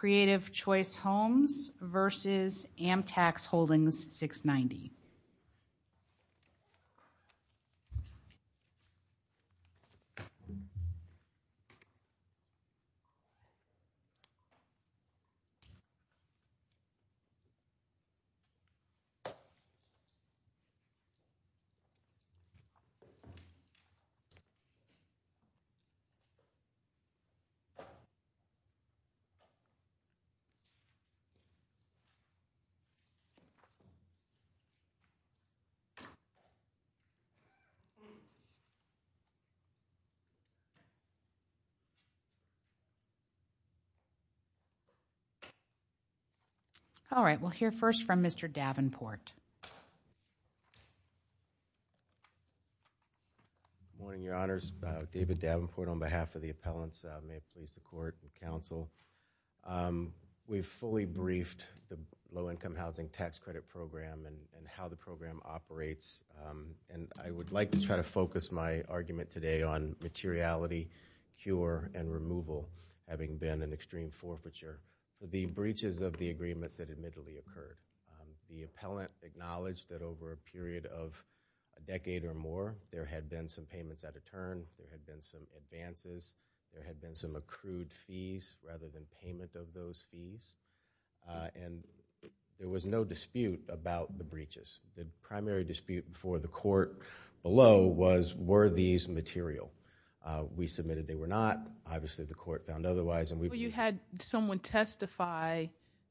Creative Choice Homes v. Amtax Holdings 690 All right, we'll hear first from Mr. Davenport. Good morning, Your Honors. David Davenport on behalf of the appellants. May it please the Court and Counsel. We've fully briefed the Low-Income Housing Tax Credit Program and how the program operates. And I would like to try to focus my argument today on materiality, cure, and removal, having been an extreme forfeiture. The breaches of the a period of a decade or more, there had been some payments at a turn, there had been some advances, there had been some accrued fees rather than payment of those fees. And there was no dispute about the breaches. The primary dispute before the Court below was, were these material? We submitted they were not. Obviously, the Court found otherwise. You had someone testify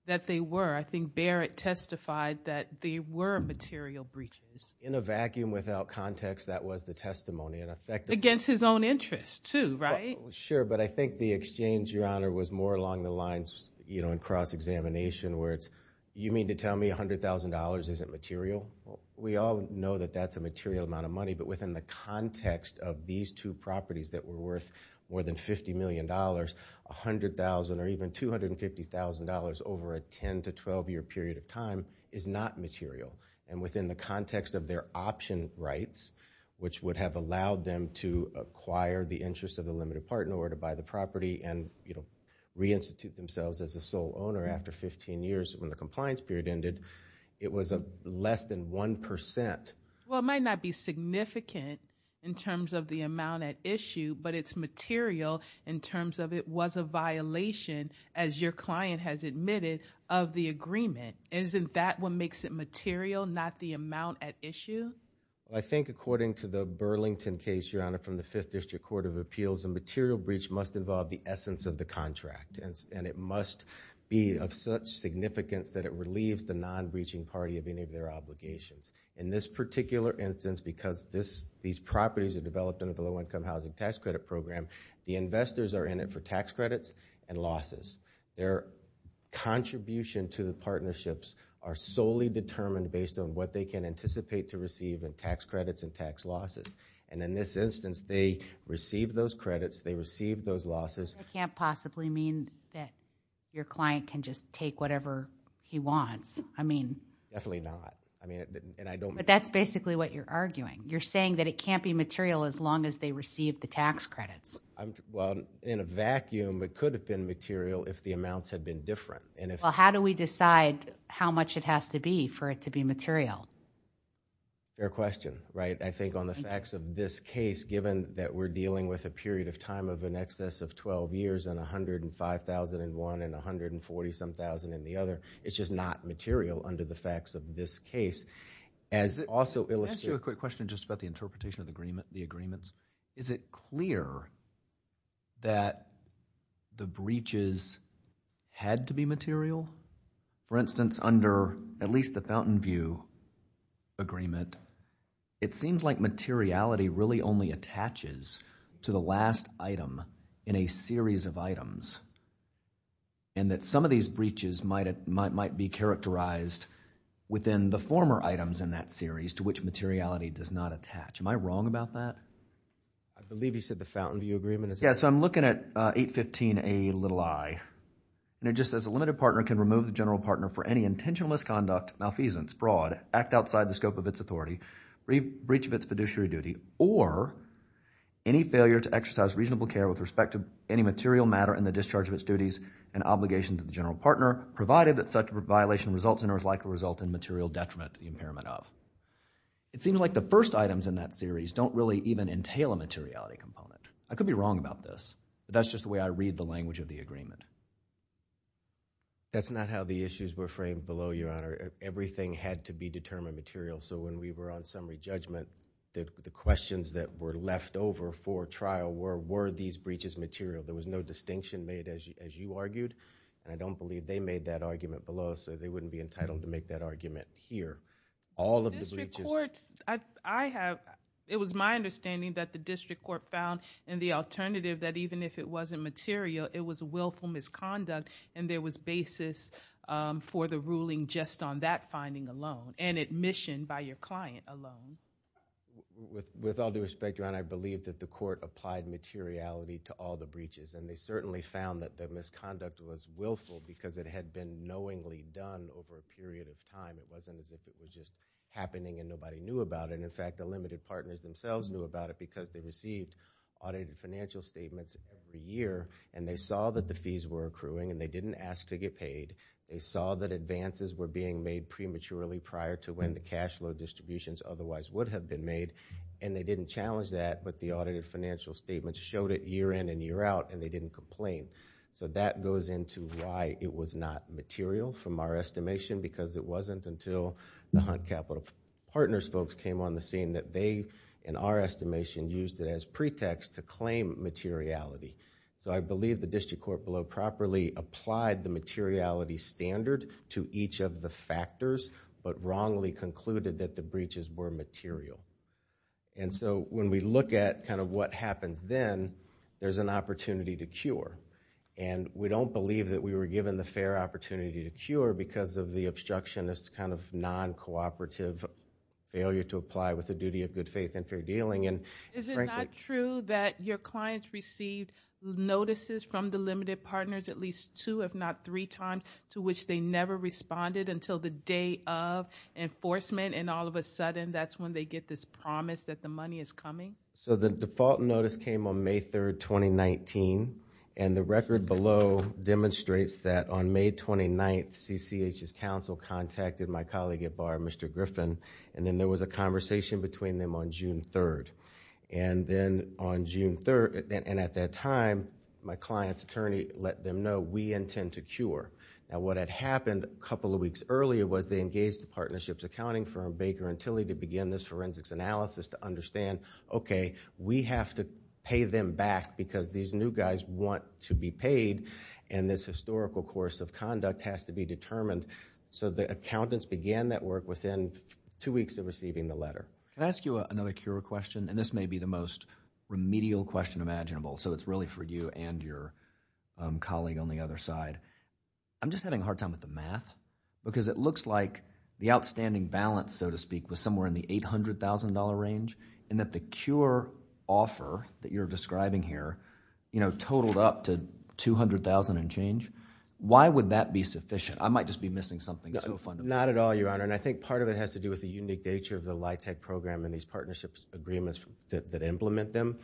that they were. I think Barrett testified that they were material breaches. In a vacuum without context, that was the testimony. Against his own interest, too, right? Sure, but I think the exchange, Your Honor, was more along the lines, you know, in cross-examination where it's, you mean to tell me $100,000 isn't material? We all know that that's a material amount of money, but within the context of these two properties that were worth more than $50 million, $100,000 or even $250,000 over a 10 to 12-year period of time is not material. And within the context of their option rights, which would have allowed them to acquire the interest of a limited partner or to buy the property and, you know, reinstitute themselves as a sole owner after 15 years when the compliance period ended, it was less than 1%. Well, it might not be significant in terms of the amount at issue, but it's material in terms of it was a violation, as your client has admitted, of the agreement. Isn't that what makes it material, not the amount at issue? I think according to the Burlington case, Your Honor, from the Fifth District Court of Appeals, a material breach must involve the essence of the contract, and it must be of such significance that it relieves the non-breaching party of any of their obligations. In this particular instance, because these properties are developed under the Low Income Housing Tax Credit Program, the investors are in it for tax credits and losses. Their contribution to the partnerships are solely determined based on what they can anticipate to receive in tax credits and tax losses. And in this instance, they receive those credits, they receive those losses. It can't possibly mean that your client can just take whatever he wants. I mean... Definitely not. But that's basically what you're arguing. You're saying that it can't be material as long as they receive the tax credits. Well, in a vacuum, it could have been material if the amounts had been different. Well, how do we decide how much it has to be for it to be material? Fair question, right? I think on the facts of this case, given that we're dealing with a period of time of in excess of 12 years and 105,000 in one and 140-some thousand in the other, it's just not material under the facts of this case. As also illustrated... Can I ask you a quick question just about the interpretation of the agreement, the agreements? Is it clear that the breaches had to be material? For instance, under at least the Fountainview Agreement, it seems like materiality really And that some of these breaches might be characterized within the former items in that series to which materiality does not attach. Am I wrong about that? I believe you said the Fountainview Agreement is... Yes. I'm looking at 815Ai. And it just says a limited partner can remove the general partner for any intentional misconduct, malfeasance, fraud, act outside the scope of its authority, breach of its fiduciary duty or any failure to exercise reasonable care with respect to any material matter in the discharge of its duties and obligations to the general partner, provided that such a violation results in or is likely to result in material detriment to the impairment of. It seems like the first items in that series don't really even entail a materiality component. I could be wrong about this, but that's just the way I read the language of the agreement. That's not how the issues were framed below, Your Honor. Everything had to be determined material. So when we were on summary judgment, the questions that were left over for trial were, were these breaches material? There was no distinction made as you argued, and I don't believe they made that argument below, so they wouldn't be entitled to make that argument here. All of the breaches... District courts, I have, it was my understanding that the district court found in the alternative that even if it wasn't material, it was willful misconduct and there was basis for the ruling just on that finding alone and admission by your client alone. With all due respect, Your Honor, I believe that the court applied materiality to all the breaches, and they certainly found that the misconduct was willful because it had been knowingly done over a period of time. It wasn't as if it was just happening and nobody knew about it. In fact, the limited partners themselves knew about it because they received audited financial statements every year, and they saw that the fees were accruing, and they didn't ask to get paid. They saw that advances were being made prematurely prior to when the cash flow distributions otherwise would have been made, and they didn't challenge that, but the audited financial statements showed it year in and year out, and they didn't complain. That goes into why it was not material from our estimation because it wasn't until the Hunt Capital Partners folks came on the scene that they, in our estimation, used it as pretext to claim materiality. I believe the district court below properly applied the materiality standard to each of the factors, but wrongly concluded that the breaches were material. When we look at what happens then, there's an opportunity to cure. We don't believe that we were given the fair opportunity to cure because of the obstructionist kind of non-cooperative failure to apply with the duty of good faith and fair dealing, and frankly— Is it not true that your clients received notices from the limited partners at least two, if not three times, to which they never responded until the day of enforcement, and all of a sudden, that's when they get this promise that the money is coming? The default notice came on May 3rd, 2019, and the record below demonstrates that on May 29th, CCH's counsel contacted my colleague at bar, Mr. Griffin, and then there was a conversation between them on June 3rd, and at that time, my client's attorney let them know, we intend to cure. What had happened a couple of weeks earlier was they engaged the partnerships accounting firm, Baker and Tilly, to begin this forensics analysis to understand, okay, we have to pay them back because these new guys want to be paid, and this historical course of conduct has to be determined, so the accountants began that work within two weeks of receiving the letter. Can I ask you another cure question? This may be the most remedial question imaginable, so it's really for you and your colleague on the other side. I'm just having a hard time with the math, because it looks like the outstanding balance, so to speak, was somewhere in the $800,000 range, and that the cure offer that you're describing here totaled up to $200,000 and change. Why would that be sufficient? I might just be missing something so fundamental. Not at all, Your Honor, and I think part of it has to do with the unique nature of the LIHTC program and these partnerships agreements that implement them.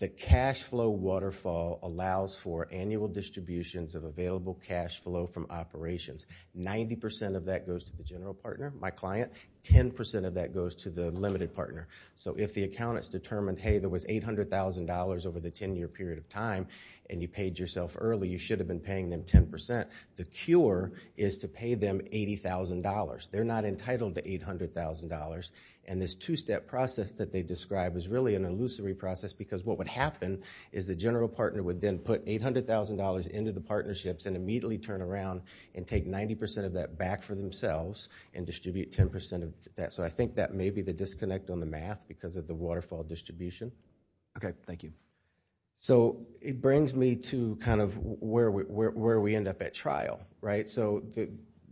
The cash flow waterfall allows for annual distributions of available cash flow from operations. Ninety percent of that goes to the general partner, my client. Ten percent of that goes to the limited partner, so if the accountants determined, hey, there was $800,000 over the 10-year period of time, and you paid yourself early, you should have been paying them 10%. The cure is to pay them $80,000. They're not entitled to $800,000, and this two-step process that they describe is really an illusory process because what would happen is the general partner would then put $800,000 into the partnerships and immediately turn around and take 90% of that back for themselves and distribute 10% of that, so I think that may be the disconnect on the math because of the waterfall distribution. Okay, thank you. So it brings me to kind of where we end up at trial, right? So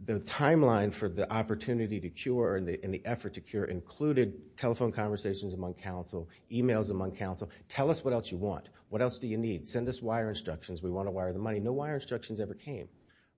the timeline for the opportunity to cure and the effort to cure included telephone conversations among counsel, emails among counsel. Tell us what else you want. What else do you need? Send us wire instructions. We want to wire the money. No wire instructions ever came,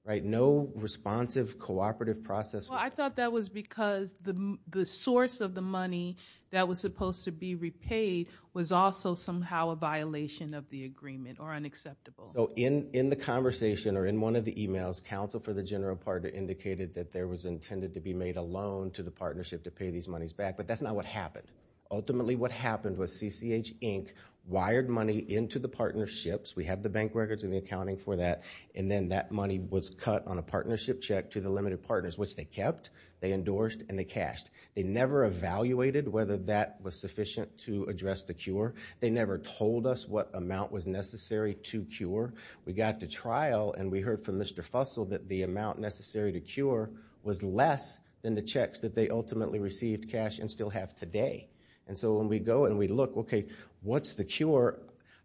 right? No responsive, cooperative process. Well, I thought that was because the source of the money that was supposed to be repaid was also somehow a violation of the agreement or unacceptable. So in the conversation or in one of the emails, counsel for the general partner indicated that there was intended to be made a loan to the partnership to pay these monies back, but that's not what happened. Ultimately what happened was CCH Inc. wired money into the partnerships, we have the bank records and the accounting for that, and then that money was cut on a partnership check to the limited partners, which they kept, they endorsed, and they cashed. They never evaluated whether that was sufficient to address the cure. They never told us what amount was necessary to cure. We got to trial and we heard from Mr. Fussell that the amount necessary to cure was less than the checks that they ultimately received, cashed, and still have today. And so when we go and we look, okay, what's the cure,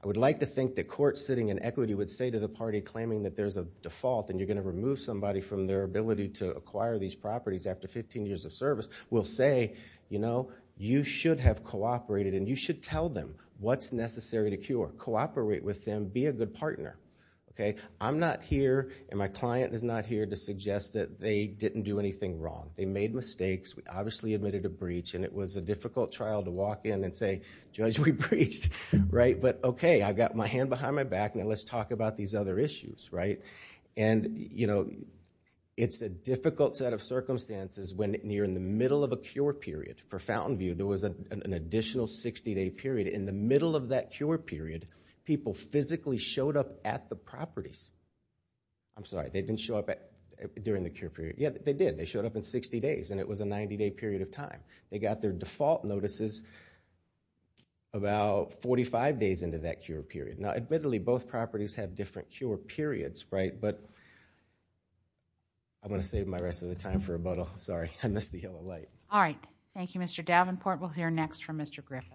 I would like to think the court sitting in equity would say to the party claiming that there's a default and you're going to remove somebody from their ability to acquire these properties after 15 years of service, will say, you know, you should have cooperated and you should tell them what's necessary to cure. Cooperate with them. Be a good partner. Okay? I'm not here and my client is not here to suggest that they didn't do anything wrong. They made mistakes. We obviously admitted a breach and it was a difficult trial to walk in and say, Judge, we breached. Right? But okay, I've got my hand behind my back, now let's talk about these other issues, right? And you know, it's a difficult set of circumstances when you're in the middle of a cure period. For Fountainview, there was an additional 60-day period. In the middle of that cure period, people physically showed up at the properties. I'm sorry, they didn't show up during the cure period. Yeah, they did. They showed up in 60 days and it was a 90-day period of time. They got their default notices about 45 days into that cure period. Now, admittedly, both properties have different cure periods, right? But I'm going to save my rest of the time for a bottle. Sorry, I missed the yellow light. All right. Thank you, Mr. Davenport. We'll hear next from Mr. Griffith.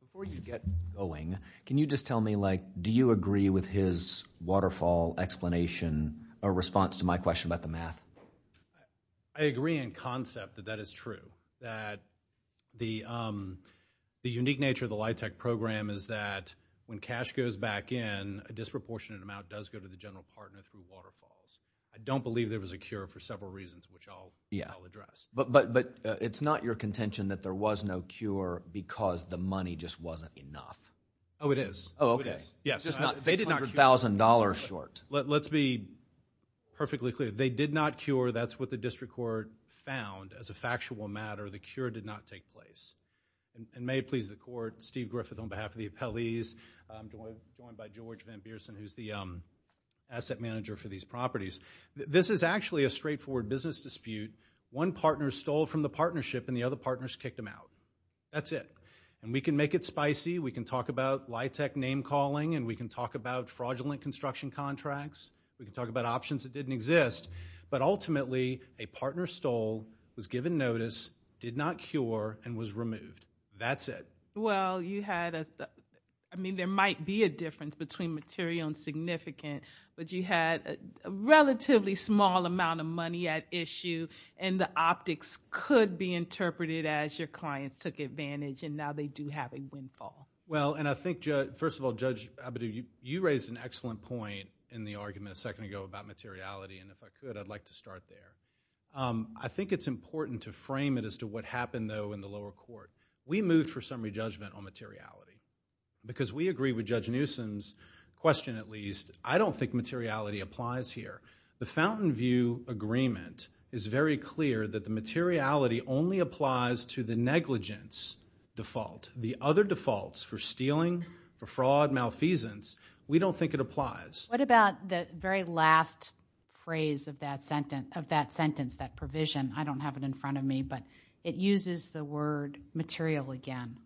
Before you get going, can you just tell me, like, do you agree with his waterfall explanation or response to my question about the math? I agree in concept that that is true, that the unique nature of the LIHTC program is that when cash goes back in, a disproportionate amount does go to the general partner through waterfalls. I don't believe there was a cure for several reasons, which I'll address. But it's not your contention that there was no cure because the money just wasn't enough? Oh, it is. Oh, okay. Yes. They did not cure. $600,000 short. Let's be perfectly clear. They did not cure. That's what the district court found as a factual matter. The cure did not take place. And may it please the court, Steve Griffith on behalf of the appellees, joined by George Van Biersen, who's the asset manager for these properties. This is actually a straightforward business dispute. One partner stole from the partnership, and the other partners kicked them out. That's it. And we can make it spicy. We can talk about LIHTC name-calling, and we can talk about fraudulent construction contracts. We can talk about options that didn't exist. But ultimately, a partner stole, was given notice, did not cure, and was removed. That's it. Well, you had a... I mean, there might be a difference between material and significant, but you had a relatively small amount of money at issue, and the optics could be interpreted as your clients took advantage, and now they do have a windfall. Well, and I think, first of all, Judge Abadou, you raised an excellent point in the argument a second ago about materiality, and if I could, I'd like to start there. I think it's important to frame it as to what happened, though, in the lower court. We moved for summary judgment on materiality, because we agree with Judge Newsom's question, at least. I don't think materiality applies here. The Fountainview Agreement is very clear that the materiality only applies to the negligence default. The other defaults for stealing, for fraud, malfeasance, we don't think it applies. What about the very last phrase of that sentence, that provision? I don't have it in front of me, but it uses the word material again.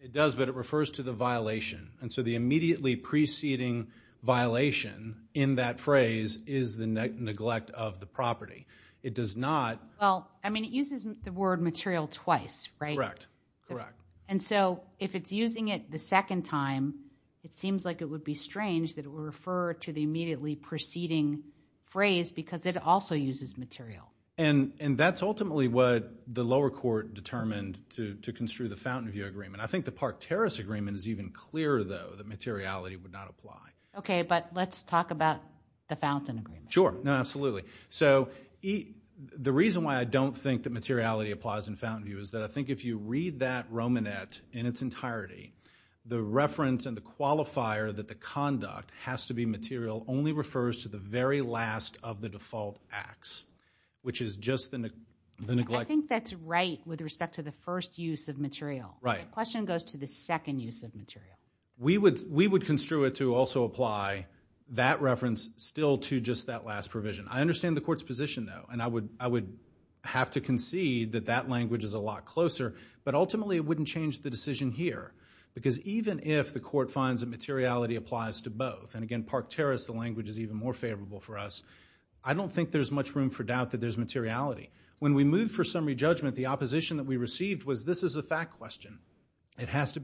It does, but it refers to the violation. The immediately preceding violation in that phrase is the neglect of the property. It does not... Well, I mean, it uses the word material twice, right? Correct. Correct. If it's using it the second time, it seems like it would be strange that it would refer to the immediately preceding phrase, because it also uses material. That's ultimately what the lower court determined to construe the Fountainview Agreement. I think the Park Terrace Agreement is even clearer, though, that materiality would not apply. Okay, but let's talk about the Fountain Agreement. Sure. No, absolutely. So, the reason why I don't think that materiality applies in Fountainview is that I think if you read that Romanette in its entirety, the reference and the qualifier that the conduct has to be material only refers to the very last of the default acts, which is just the neglect... I think that's right with respect to the first use of material. Right. The question goes to the second use of material. We would construe it to also apply that reference still to just that last provision. I understand the court's position, though, and I would have to concede that that language is a lot closer, but ultimately, it wouldn't change the decision here, because even if the court finds that materiality applies to both, and again, Park Terrace, the language is even more favorable for us, I don't think there's much room for doubt that there's materiality. When we moved for summary judgment, the opposition that we received was, this is a fact question. It has to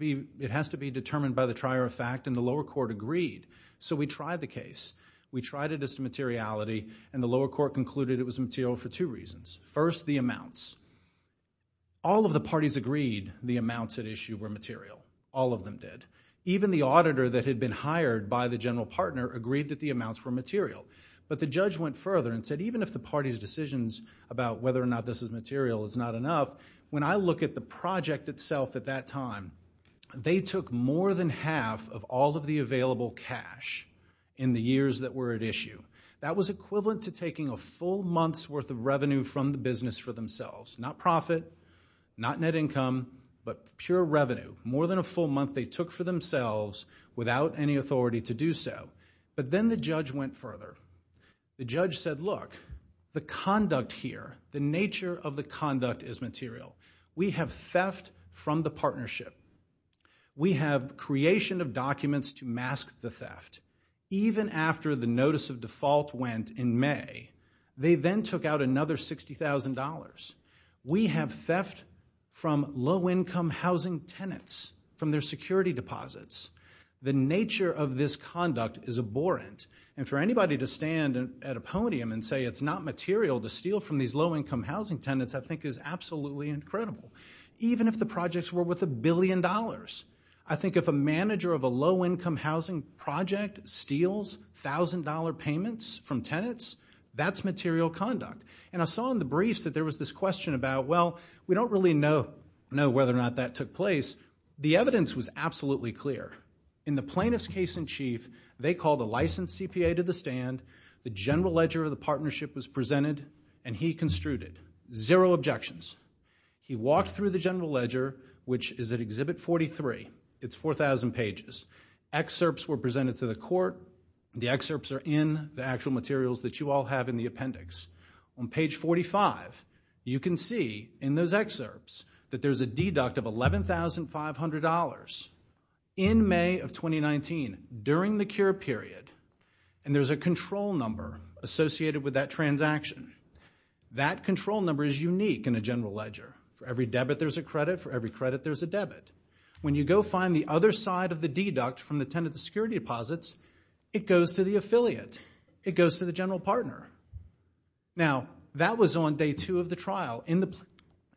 be determined by the trier of fact, and the lower court agreed, so we tried the case. We tried it as to materiality, and the lower court concluded it was material for two reasons. First, the amounts. All of the parties agreed the amounts at issue were material. All of them did. Even the auditor that had been hired by the general partner agreed that the amounts were material. The judge went further and said, even if the party's decisions about whether or not this is material is not enough, when I look at the project itself at that time, they took more than half of all of the available cash in the years that were at issue. That was equivalent to taking a full month's worth of revenue from the business for themselves. Not profit, not net income, but pure revenue. More than a full month they took for themselves without any authority to do so, but then the The judge said, look, the conduct here, the nature of the conduct is material. We have theft from the partnership. We have creation of documents to mask the theft. Even after the notice of default went in May, they then took out another $60,000. We have theft from low income housing tenants, from their security deposits. The nature of this conduct is abhorrent, and for anybody to stand at a podium and say it's not material to steal from these low income housing tenants, I think is absolutely incredible. Even if the projects were worth a billion dollars, I think if a manager of a low income housing project steals $1,000 payments from tenants, that's material conduct. And I saw in the briefs that there was this question about, well, we don't really know whether or not that took place. The evidence was absolutely clear. In the plaintiff's case in chief, they called a licensed CPA to the stand. The general ledger of the partnership was presented, and he construed it. Zero objections. He walked through the general ledger, which is at Exhibit 43. It's 4,000 pages. Excerpts were presented to the court. The excerpts are in the actual materials that you all have in the appendix. On page 45, you can see in those excerpts that there's a deduct of $11,500 in May of 2019 during the cure period, and there's a control number associated with that transaction. That control number is unique in a general ledger. For every debit, there's a credit. For every credit, there's a debit. When you go find the other side of the deduct from the tenant security deposits, it goes to the affiliate. It goes to the general partner. Now, that was on day two of the trial in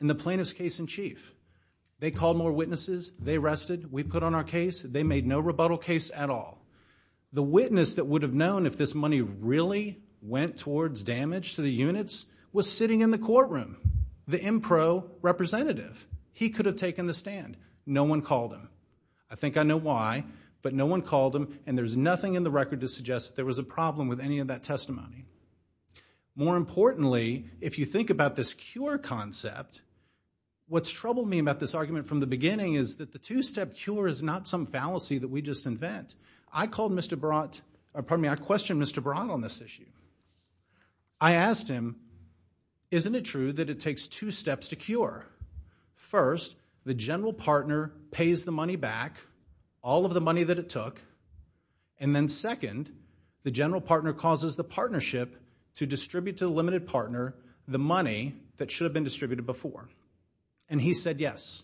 the plaintiff's case in chief. They called more witnesses. They rested. We put on our case. They made no rebuttal case at all. The witness that would have known if this money really went towards damage to the units was sitting in the courtroom, the Impro representative. He could have taken the stand. No one called him. There was a problem with any of that testimony. More importantly, if you think about this cure concept, what's troubled me about this argument from the beginning is that the two-step cure is not some fallacy that we just invent. I called Mr. Barat, pardon me, I questioned Mr. Barat on this issue. I asked him, isn't it true that it takes two steps to cure? First, the general partner pays the money back, all of the money that it took, and then second, the general partner causes the partnership to distribute to the limited partner the money that should have been distributed before, and he said yes.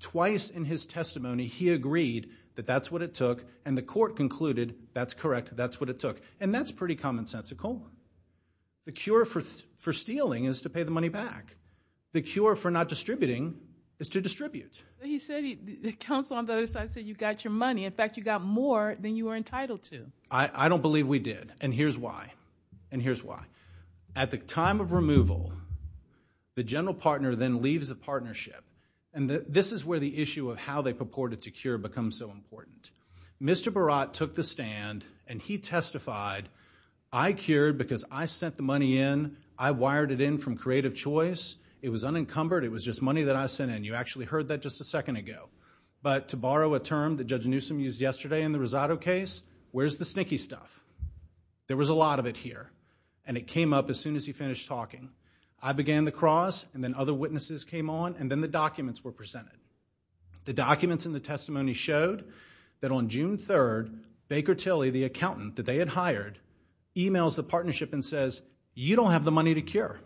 Twice in his testimony, he agreed that that's what it took, and the court concluded that's correct, that's what it took, and that's pretty common sense at Coleman. The cure for stealing is to pay the money back. The cure for not distributing is to distribute. He said, the counsel on the other side said, you got your money, in fact, you got more than you were entitled to. I don't believe we did, and here's why, and here's why. At the time of removal, the general partner then leaves the partnership, and this is where the issue of how they purported to cure becomes so important. Mr. Barat took the stand, and he testified, I cured because I sent the money in, I wired it in from creative choice, it was unencumbered, it was just money that I sent in. You actually heard that just a second ago, but to borrow a term that Judge Newsom used yesterday in the Rosado case, where's the sneaky stuff? There was a lot of it here, and it came up as soon as he finished talking. I began the cross, and then other witnesses came on, and then the documents were presented. The documents in the testimony showed that on June 3rd, Baker Tilley, the accountant that they had hired, emails the partnership and says, you don't have the money to cure.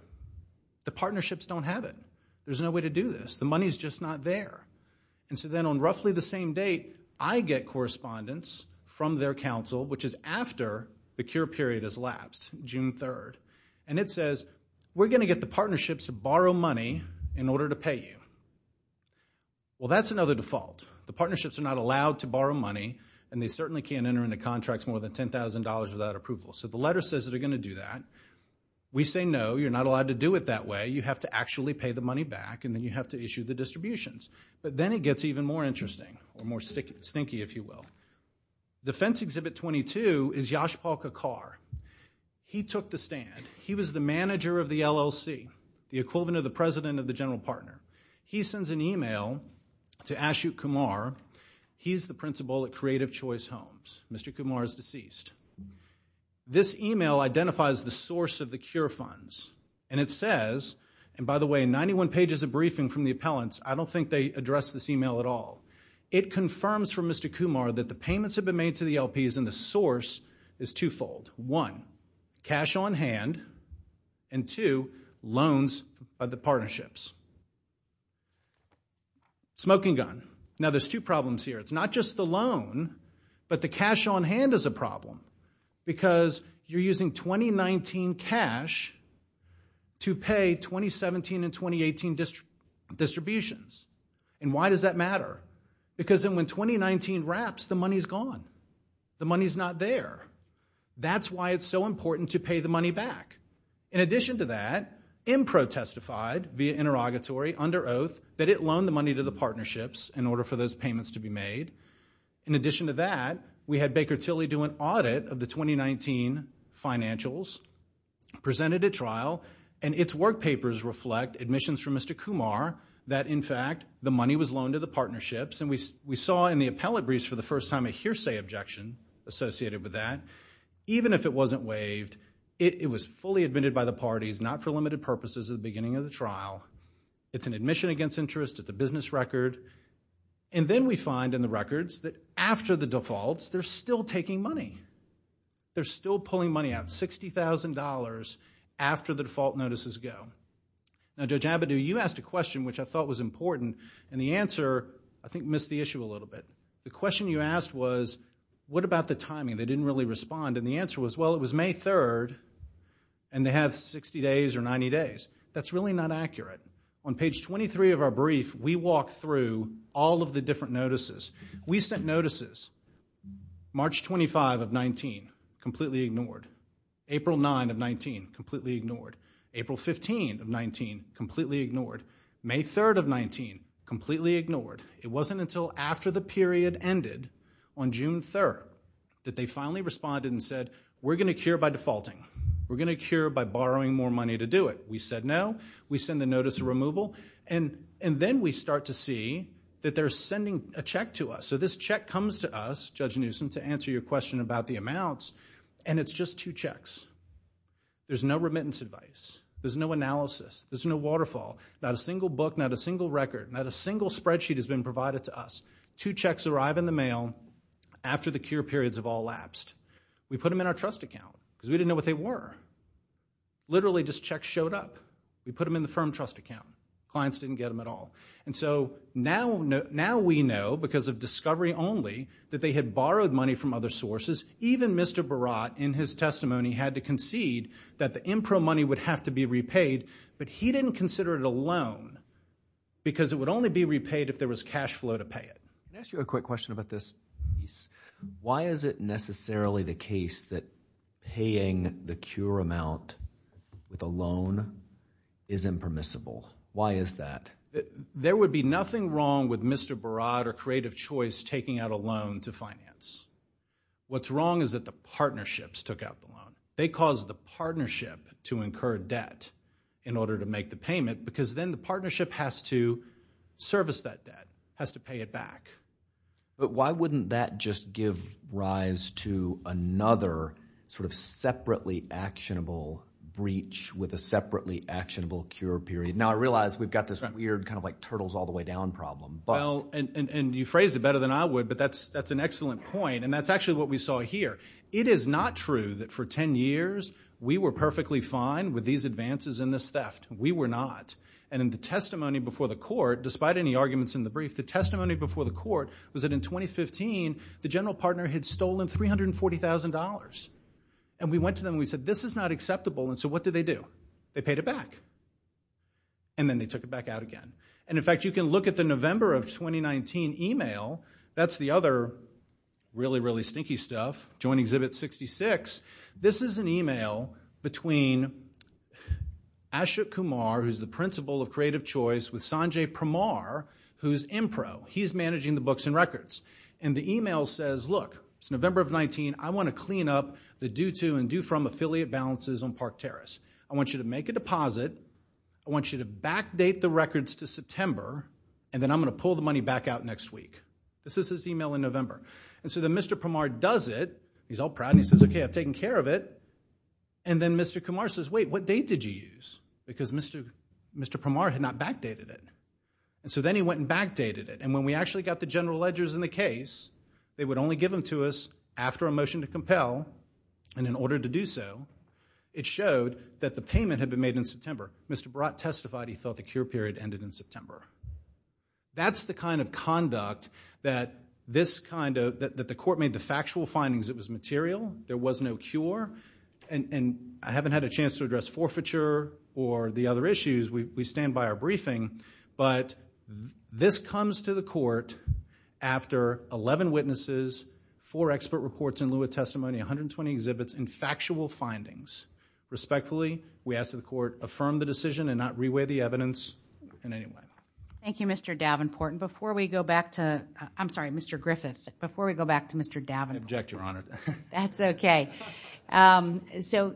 The partnerships don't have it. There's no way to do this. The money's just not there. And so then on roughly the same date, I get correspondence from their counsel, which is after the cure period has elapsed, June 3rd, and it says, we're going to get the partnerships to borrow money in order to pay you. Well, that's another default. The partnerships are not allowed to borrow money, and they certainly can't enter into contracts more than $10,000 without approval, so the letter says they're going to do that. We say, no, you're not allowed to do it that way. You have to actually pay the money back, and then you have to issue the distributions. But then it gets even more interesting, or more stinky, if you will. Defense Exhibit 22 is Yashpal Kakar. He took the stand. He was the manager of the LLC, the equivalent of the president of the general partner. He sends an email to Ashut Kumar. He's the principal at Creative Choice Homes. Mr. Kumar is deceased. This email identifies the source of the cure funds, and it says, and by the way, 91 pages of briefing from the appellants, I don't think they address this email at all. It confirms for Mr. Kumar that the payments have been made to the LPs, and the source is twofold. One, cash on hand, and two, loans by the partnerships. Smoking gun. Now, there's two problems here. It's not just the loan, but the cash on hand is a problem, because you're using 2019 cash to pay 2017 and 2018 distributions, and why does that matter? Because then when 2019 wraps, the money's gone. The money's not there. That's why it's so important to pay the money back. In addition to that, IMPRO testified via interrogatory, under oath, that it loaned the money to the In addition to that, we had Baker Tilly do an audit of the 2019 financials, presented a trial, and its work papers reflect admissions from Mr. Kumar that, in fact, the money was loaned to the partnerships, and we saw in the appellate briefs for the first time a hearsay objection associated with that. Even if it wasn't waived, it was fully admitted by the parties, not for limited purposes at the beginning of the trial. It's an admission against interest. It's a business record. And then we find in the records that after the defaults, they're still taking money. They're still pulling money out, $60,000 after the default notices go. Now, Judge Abadou, you asked a question which I thought was important, and the answer, I think, missed the issue a little bit. The question you asked was, what about the timing? They didn't really respond, and the answer was, well, it was May 3rd, and they have 60 days or 90 days. That's really not accurate. On page 23 of our brief, we walk through all of the different notices. We sent notices March 25 of 19, completely ignored. April 9 of 19, completely ignored. April 15 of 19, completely ignored. May 3rd of 19, completely ignored. It wasn't until after the period ended on June 3rd that they finally responded and said, we're going to cure by defaulting. We're going to cure by borrowing more money to do it. We said no. We send the notice of removal, and then we start to see that they're sending a check to us. So this check comes to us, Judge Newsom, to answer your question about the amounts, and it's just two checks. There's no remittance advice. There's no analysis. There's no waterfall. Not a single book. Not a single record. Not a single spreadsheet has been provided to us. Two checks arrive in the mail after the cure periods have all lapsed. We put them in our trust account, because we didn't know what they were. Literally, just checks showed up. We put them in the firm trust account. Clients didn't get them at all. And so now we know, because of discovery only, that they had borrowed money from other sources. Even Mr. Barat, in his testimony, had to concede that the IMPRO money would have to be repaid, but he didn't consider it a loan, because it would only be repaid if there was cash flow to pay it. Can I ask you a quick question about this piece? Why is it necessarily the case that paying the cure amount with a loan is impermissible? Why is that? There would be nothing wrong with Mr. Barat or Creative Choice taking out a loan to finance. What's wrong is that the partnerships took out the loan. They caused the partnership to incur debt in order to make the payment, because then the partnership has to service that debt, has to pay it back. But why wouldn't that just give rise to another sort of separately actionable breach with a separately actionable cure period? Now I realize we've got this weird kind of like turtles all the way down problem. And you phrased it better than I would, but that's an excellent point. And that's actually what we saw here. It is not true that for 10 years we were perfectly fine with these advances in this theft. We were not. And in the testimony before the court, despite any arguments in the brief, the testimony before the court was that in 2015, the general partner had stolen $340,000. And we went to them and we said, this is not acceptable. And so what did they do? They paid it back. And then they took it back out again. And in fact, you can look at the November of 2019 email. That's the other really, really stinky stuff, Joint Exhibit 66. This is an email between Asha Kumar, who's the principal of Creative Choice, with Sanjay Pramar, who's in pro. He's managing the books and records. And the email says, look, it's November of 2019. I want to clean up the due to and due from affiliate balances on Park Terrace. I want you to make a deposit. I want you to backdate the records to September. And then I'm going to pull the money back out next week. This is his email in November. And so then Mr. Pramar does it. He's all proud. And he says, OK, I've taken care of it. And then Mr. Kumar says, wait, what date did you use? Because Mr. Pramar had not backdated it. And so then he went and backdated it. And when we actually got the general ledgers in the case, they would only give them to us after a motion to compel. And in order to do so, it showed that the payment had been made in September. Mr. Barat testified he thought the cure period ended in September. That's the kind of conduct that the court made the factual findings. It was material. There was no cure. And I haven't had a chance to address forfeiture or the other issues. We stand by our briefing. But this comes to the court after 11 witnesses, four expert reports in lieu of testimony, 120 exhibits, and factual findings. Respectfully, we ask that the court affirm the decision and not reweigh the evidence in any way. Thank you, Mr. Davenport. And before we go back to Mr. Griffith, before we go back to Mr. Davenport. I object, Your Honor. That's OK. So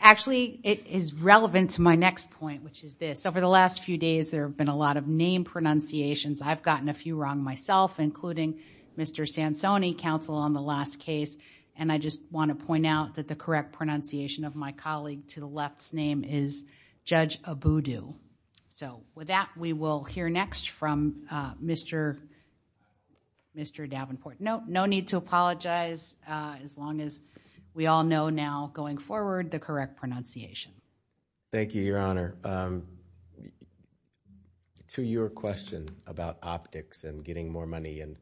actually, it is relevant to my next point, which is this. Over the last few days, there have been a lot of name pronunciations. I've gotten a few wrong myself, including Mr. Sansoni, counsel on the last case. And I just want to point out that the correct pronunciation of my colleague to the left's name is Judge Abudu. So with that, we will hear next from Mr. Davenport. No need to apologize as long as we all know now going forward the correct pronunciation. Thank you, Your Honor. To your question about optics and getting more money, and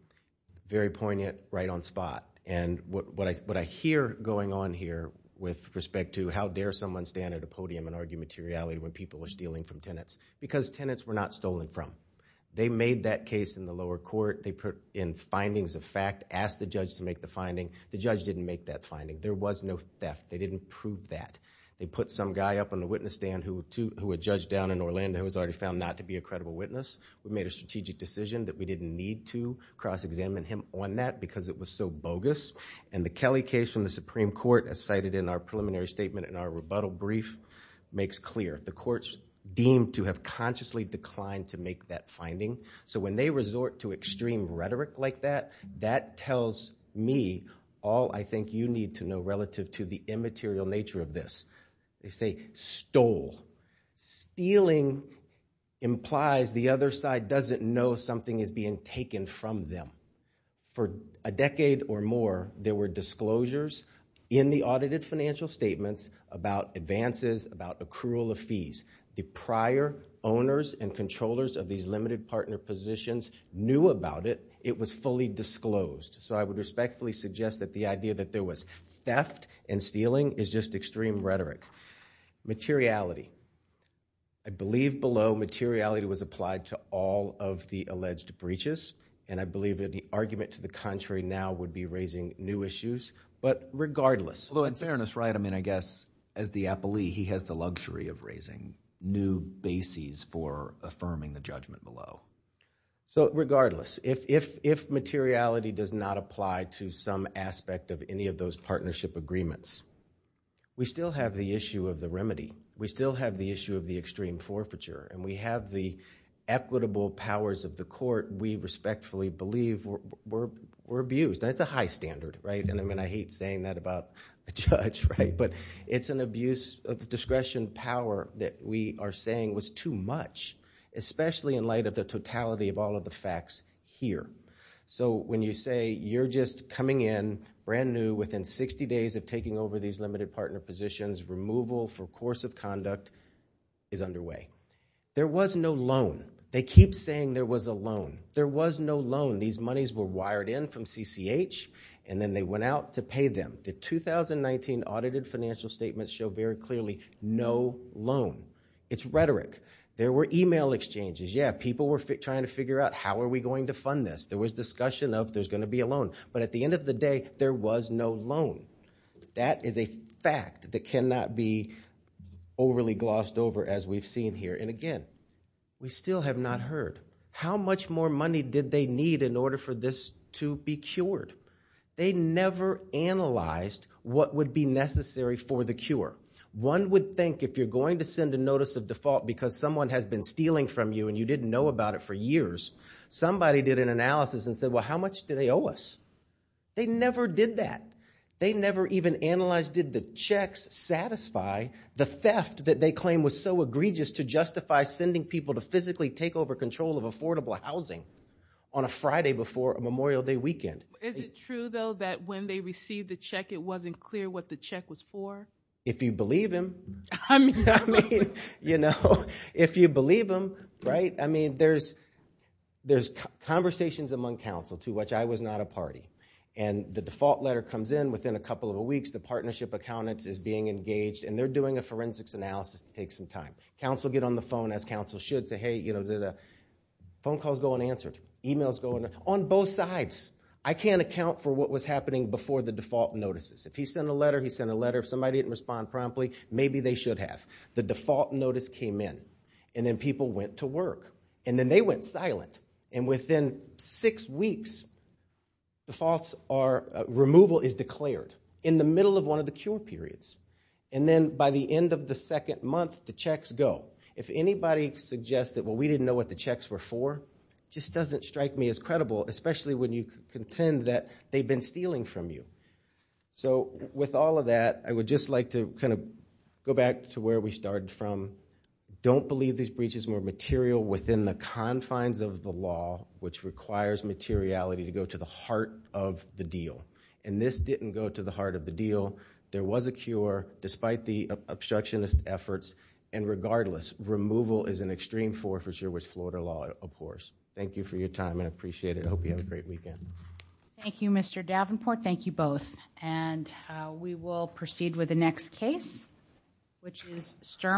very poignant right on spot. And what I hear going on here with respect to how dare someone stand at a podium and argue materiality when people are stealing from tenants, because tenants were not stolen from. They made that case in the lower court. They put in findings of fact, asked the judge to make the finding. The judge didn't make that finding. There was no theft. They didn't prove that. They put some guy up on the witness stand who had judged down in Orlando who was already found not to be a credible witness. We made a strategic decision that we didn't need to cross-examine him on that because it was so bogus. And the Kelly case from the Supreme Court, as cited in our preliminary statement in our rebuttal brief, makes clear. The courts deemed to have consciously declined to make that finding. So when they resort to extreme rhetoric like that, that tells me all I think you need to know relative to the immaterial nature of this. They say stole. Stealing implies the other side doesn't know something is being taken from them. For a decade or more, there were disclosures The prior owners and controllers of these limited partner positions knew about it. It was fully disclosed. So I would respectfully suggest that the idea that there was theft and stealing is just extreme rhetoric. Materiality. I believe below, materiality was applied to all of the alleged breaches. And I believe that the argument to the contrary now would be raising new issues. But regardless. Although in fairness, right, I mean, I guess as the appellee, he has the luxury of raising new bases for affirming the judgment below. So regardless, if materiality does not apply to some aspect of any of those partnership agreements, we still have the issue of the remedy. We still have the issue of the extreme forfeiture. And we have the equitable powers of the court we respectfully believe were abused. That's a high standard, right? And I mean, I hate saying that about a judge, right? But it's an abuse of discretion power that we are saying was too much. Especially in light of the totality of all of the facts here. So when you say you're just coming in brand new within 60 days of taking over these limited partner positions, removal for course of conduct is underway. There was no loan. They keep saying there was a loan. There was no loan. These monies were wired in from CCH. And then they went out to pay them. The 2019 audited financial statements show very clearly no loan. It's rhetoric. There were email exchanges. Yeah, people were trying to figure out how are we going to fund this? There was discussion of there's going to be a loan. But at the end of the day, there was no loan. That is a fact that cannot be overly glossed over as we've seen here. And again, we still have not heard. How much more money did they need in order for this to be cured? They never analyzed what would be necessary for the cure. One would think if you're going to send a notice of default because someone has been stealing from you and you didn't know about it for years, somebody did an analysis and said, well, how much do they owe us? They never did that. They never even analyzed did the checks satisfy the theft that they claim was so egregious to justify sending people to physically take over control of affordable housing on a Friday before a Memorial Day weekend. Is it true, though, that when they received the check, it wasn't clear what the check was for? If you believe him. You know, if you believe him, right? I mean, there's conversations among counsel to which I was not a party. And the default letter comes in within a couple of weeks. The partnership accountants is being engaged. And they're doing a forensics analysis to take some time. Counsel get on the phone as counsel should say, hey, phone calls go unanswered. Emails go unanswered. On both sides. I can't account for what was happening before the default notices. If he sent a letter, he sent a letter. If somebody didn't respond promptly, maybe they should have. The default notice came in. And then people went to work. And then they went silent. And within six weeks, removal is declared in the middle of one of the cure periods. And then by the end of the second month, the checks go. If anybody suggests that, well, we didn't know what the checks were for, just doesn't strike me as credible, especially when you contend that they've been stealing from you. So with all of that, I would just like to go back to where we started from. Don't believe these breaches were material within the confines of the law, which requires materiality to go to the heart of the deal. And this didn't go to the heart of the deal. There was a cure, despite the obstructionist efforts. And regardless, removal is an extreme force here with Florida law, of course. Thank you for your time, and I appreciate it. I hope you have a great weekend. Thank you, Mr. Davenport. Thank you both. And we will proceed with the next case, which is Sturm.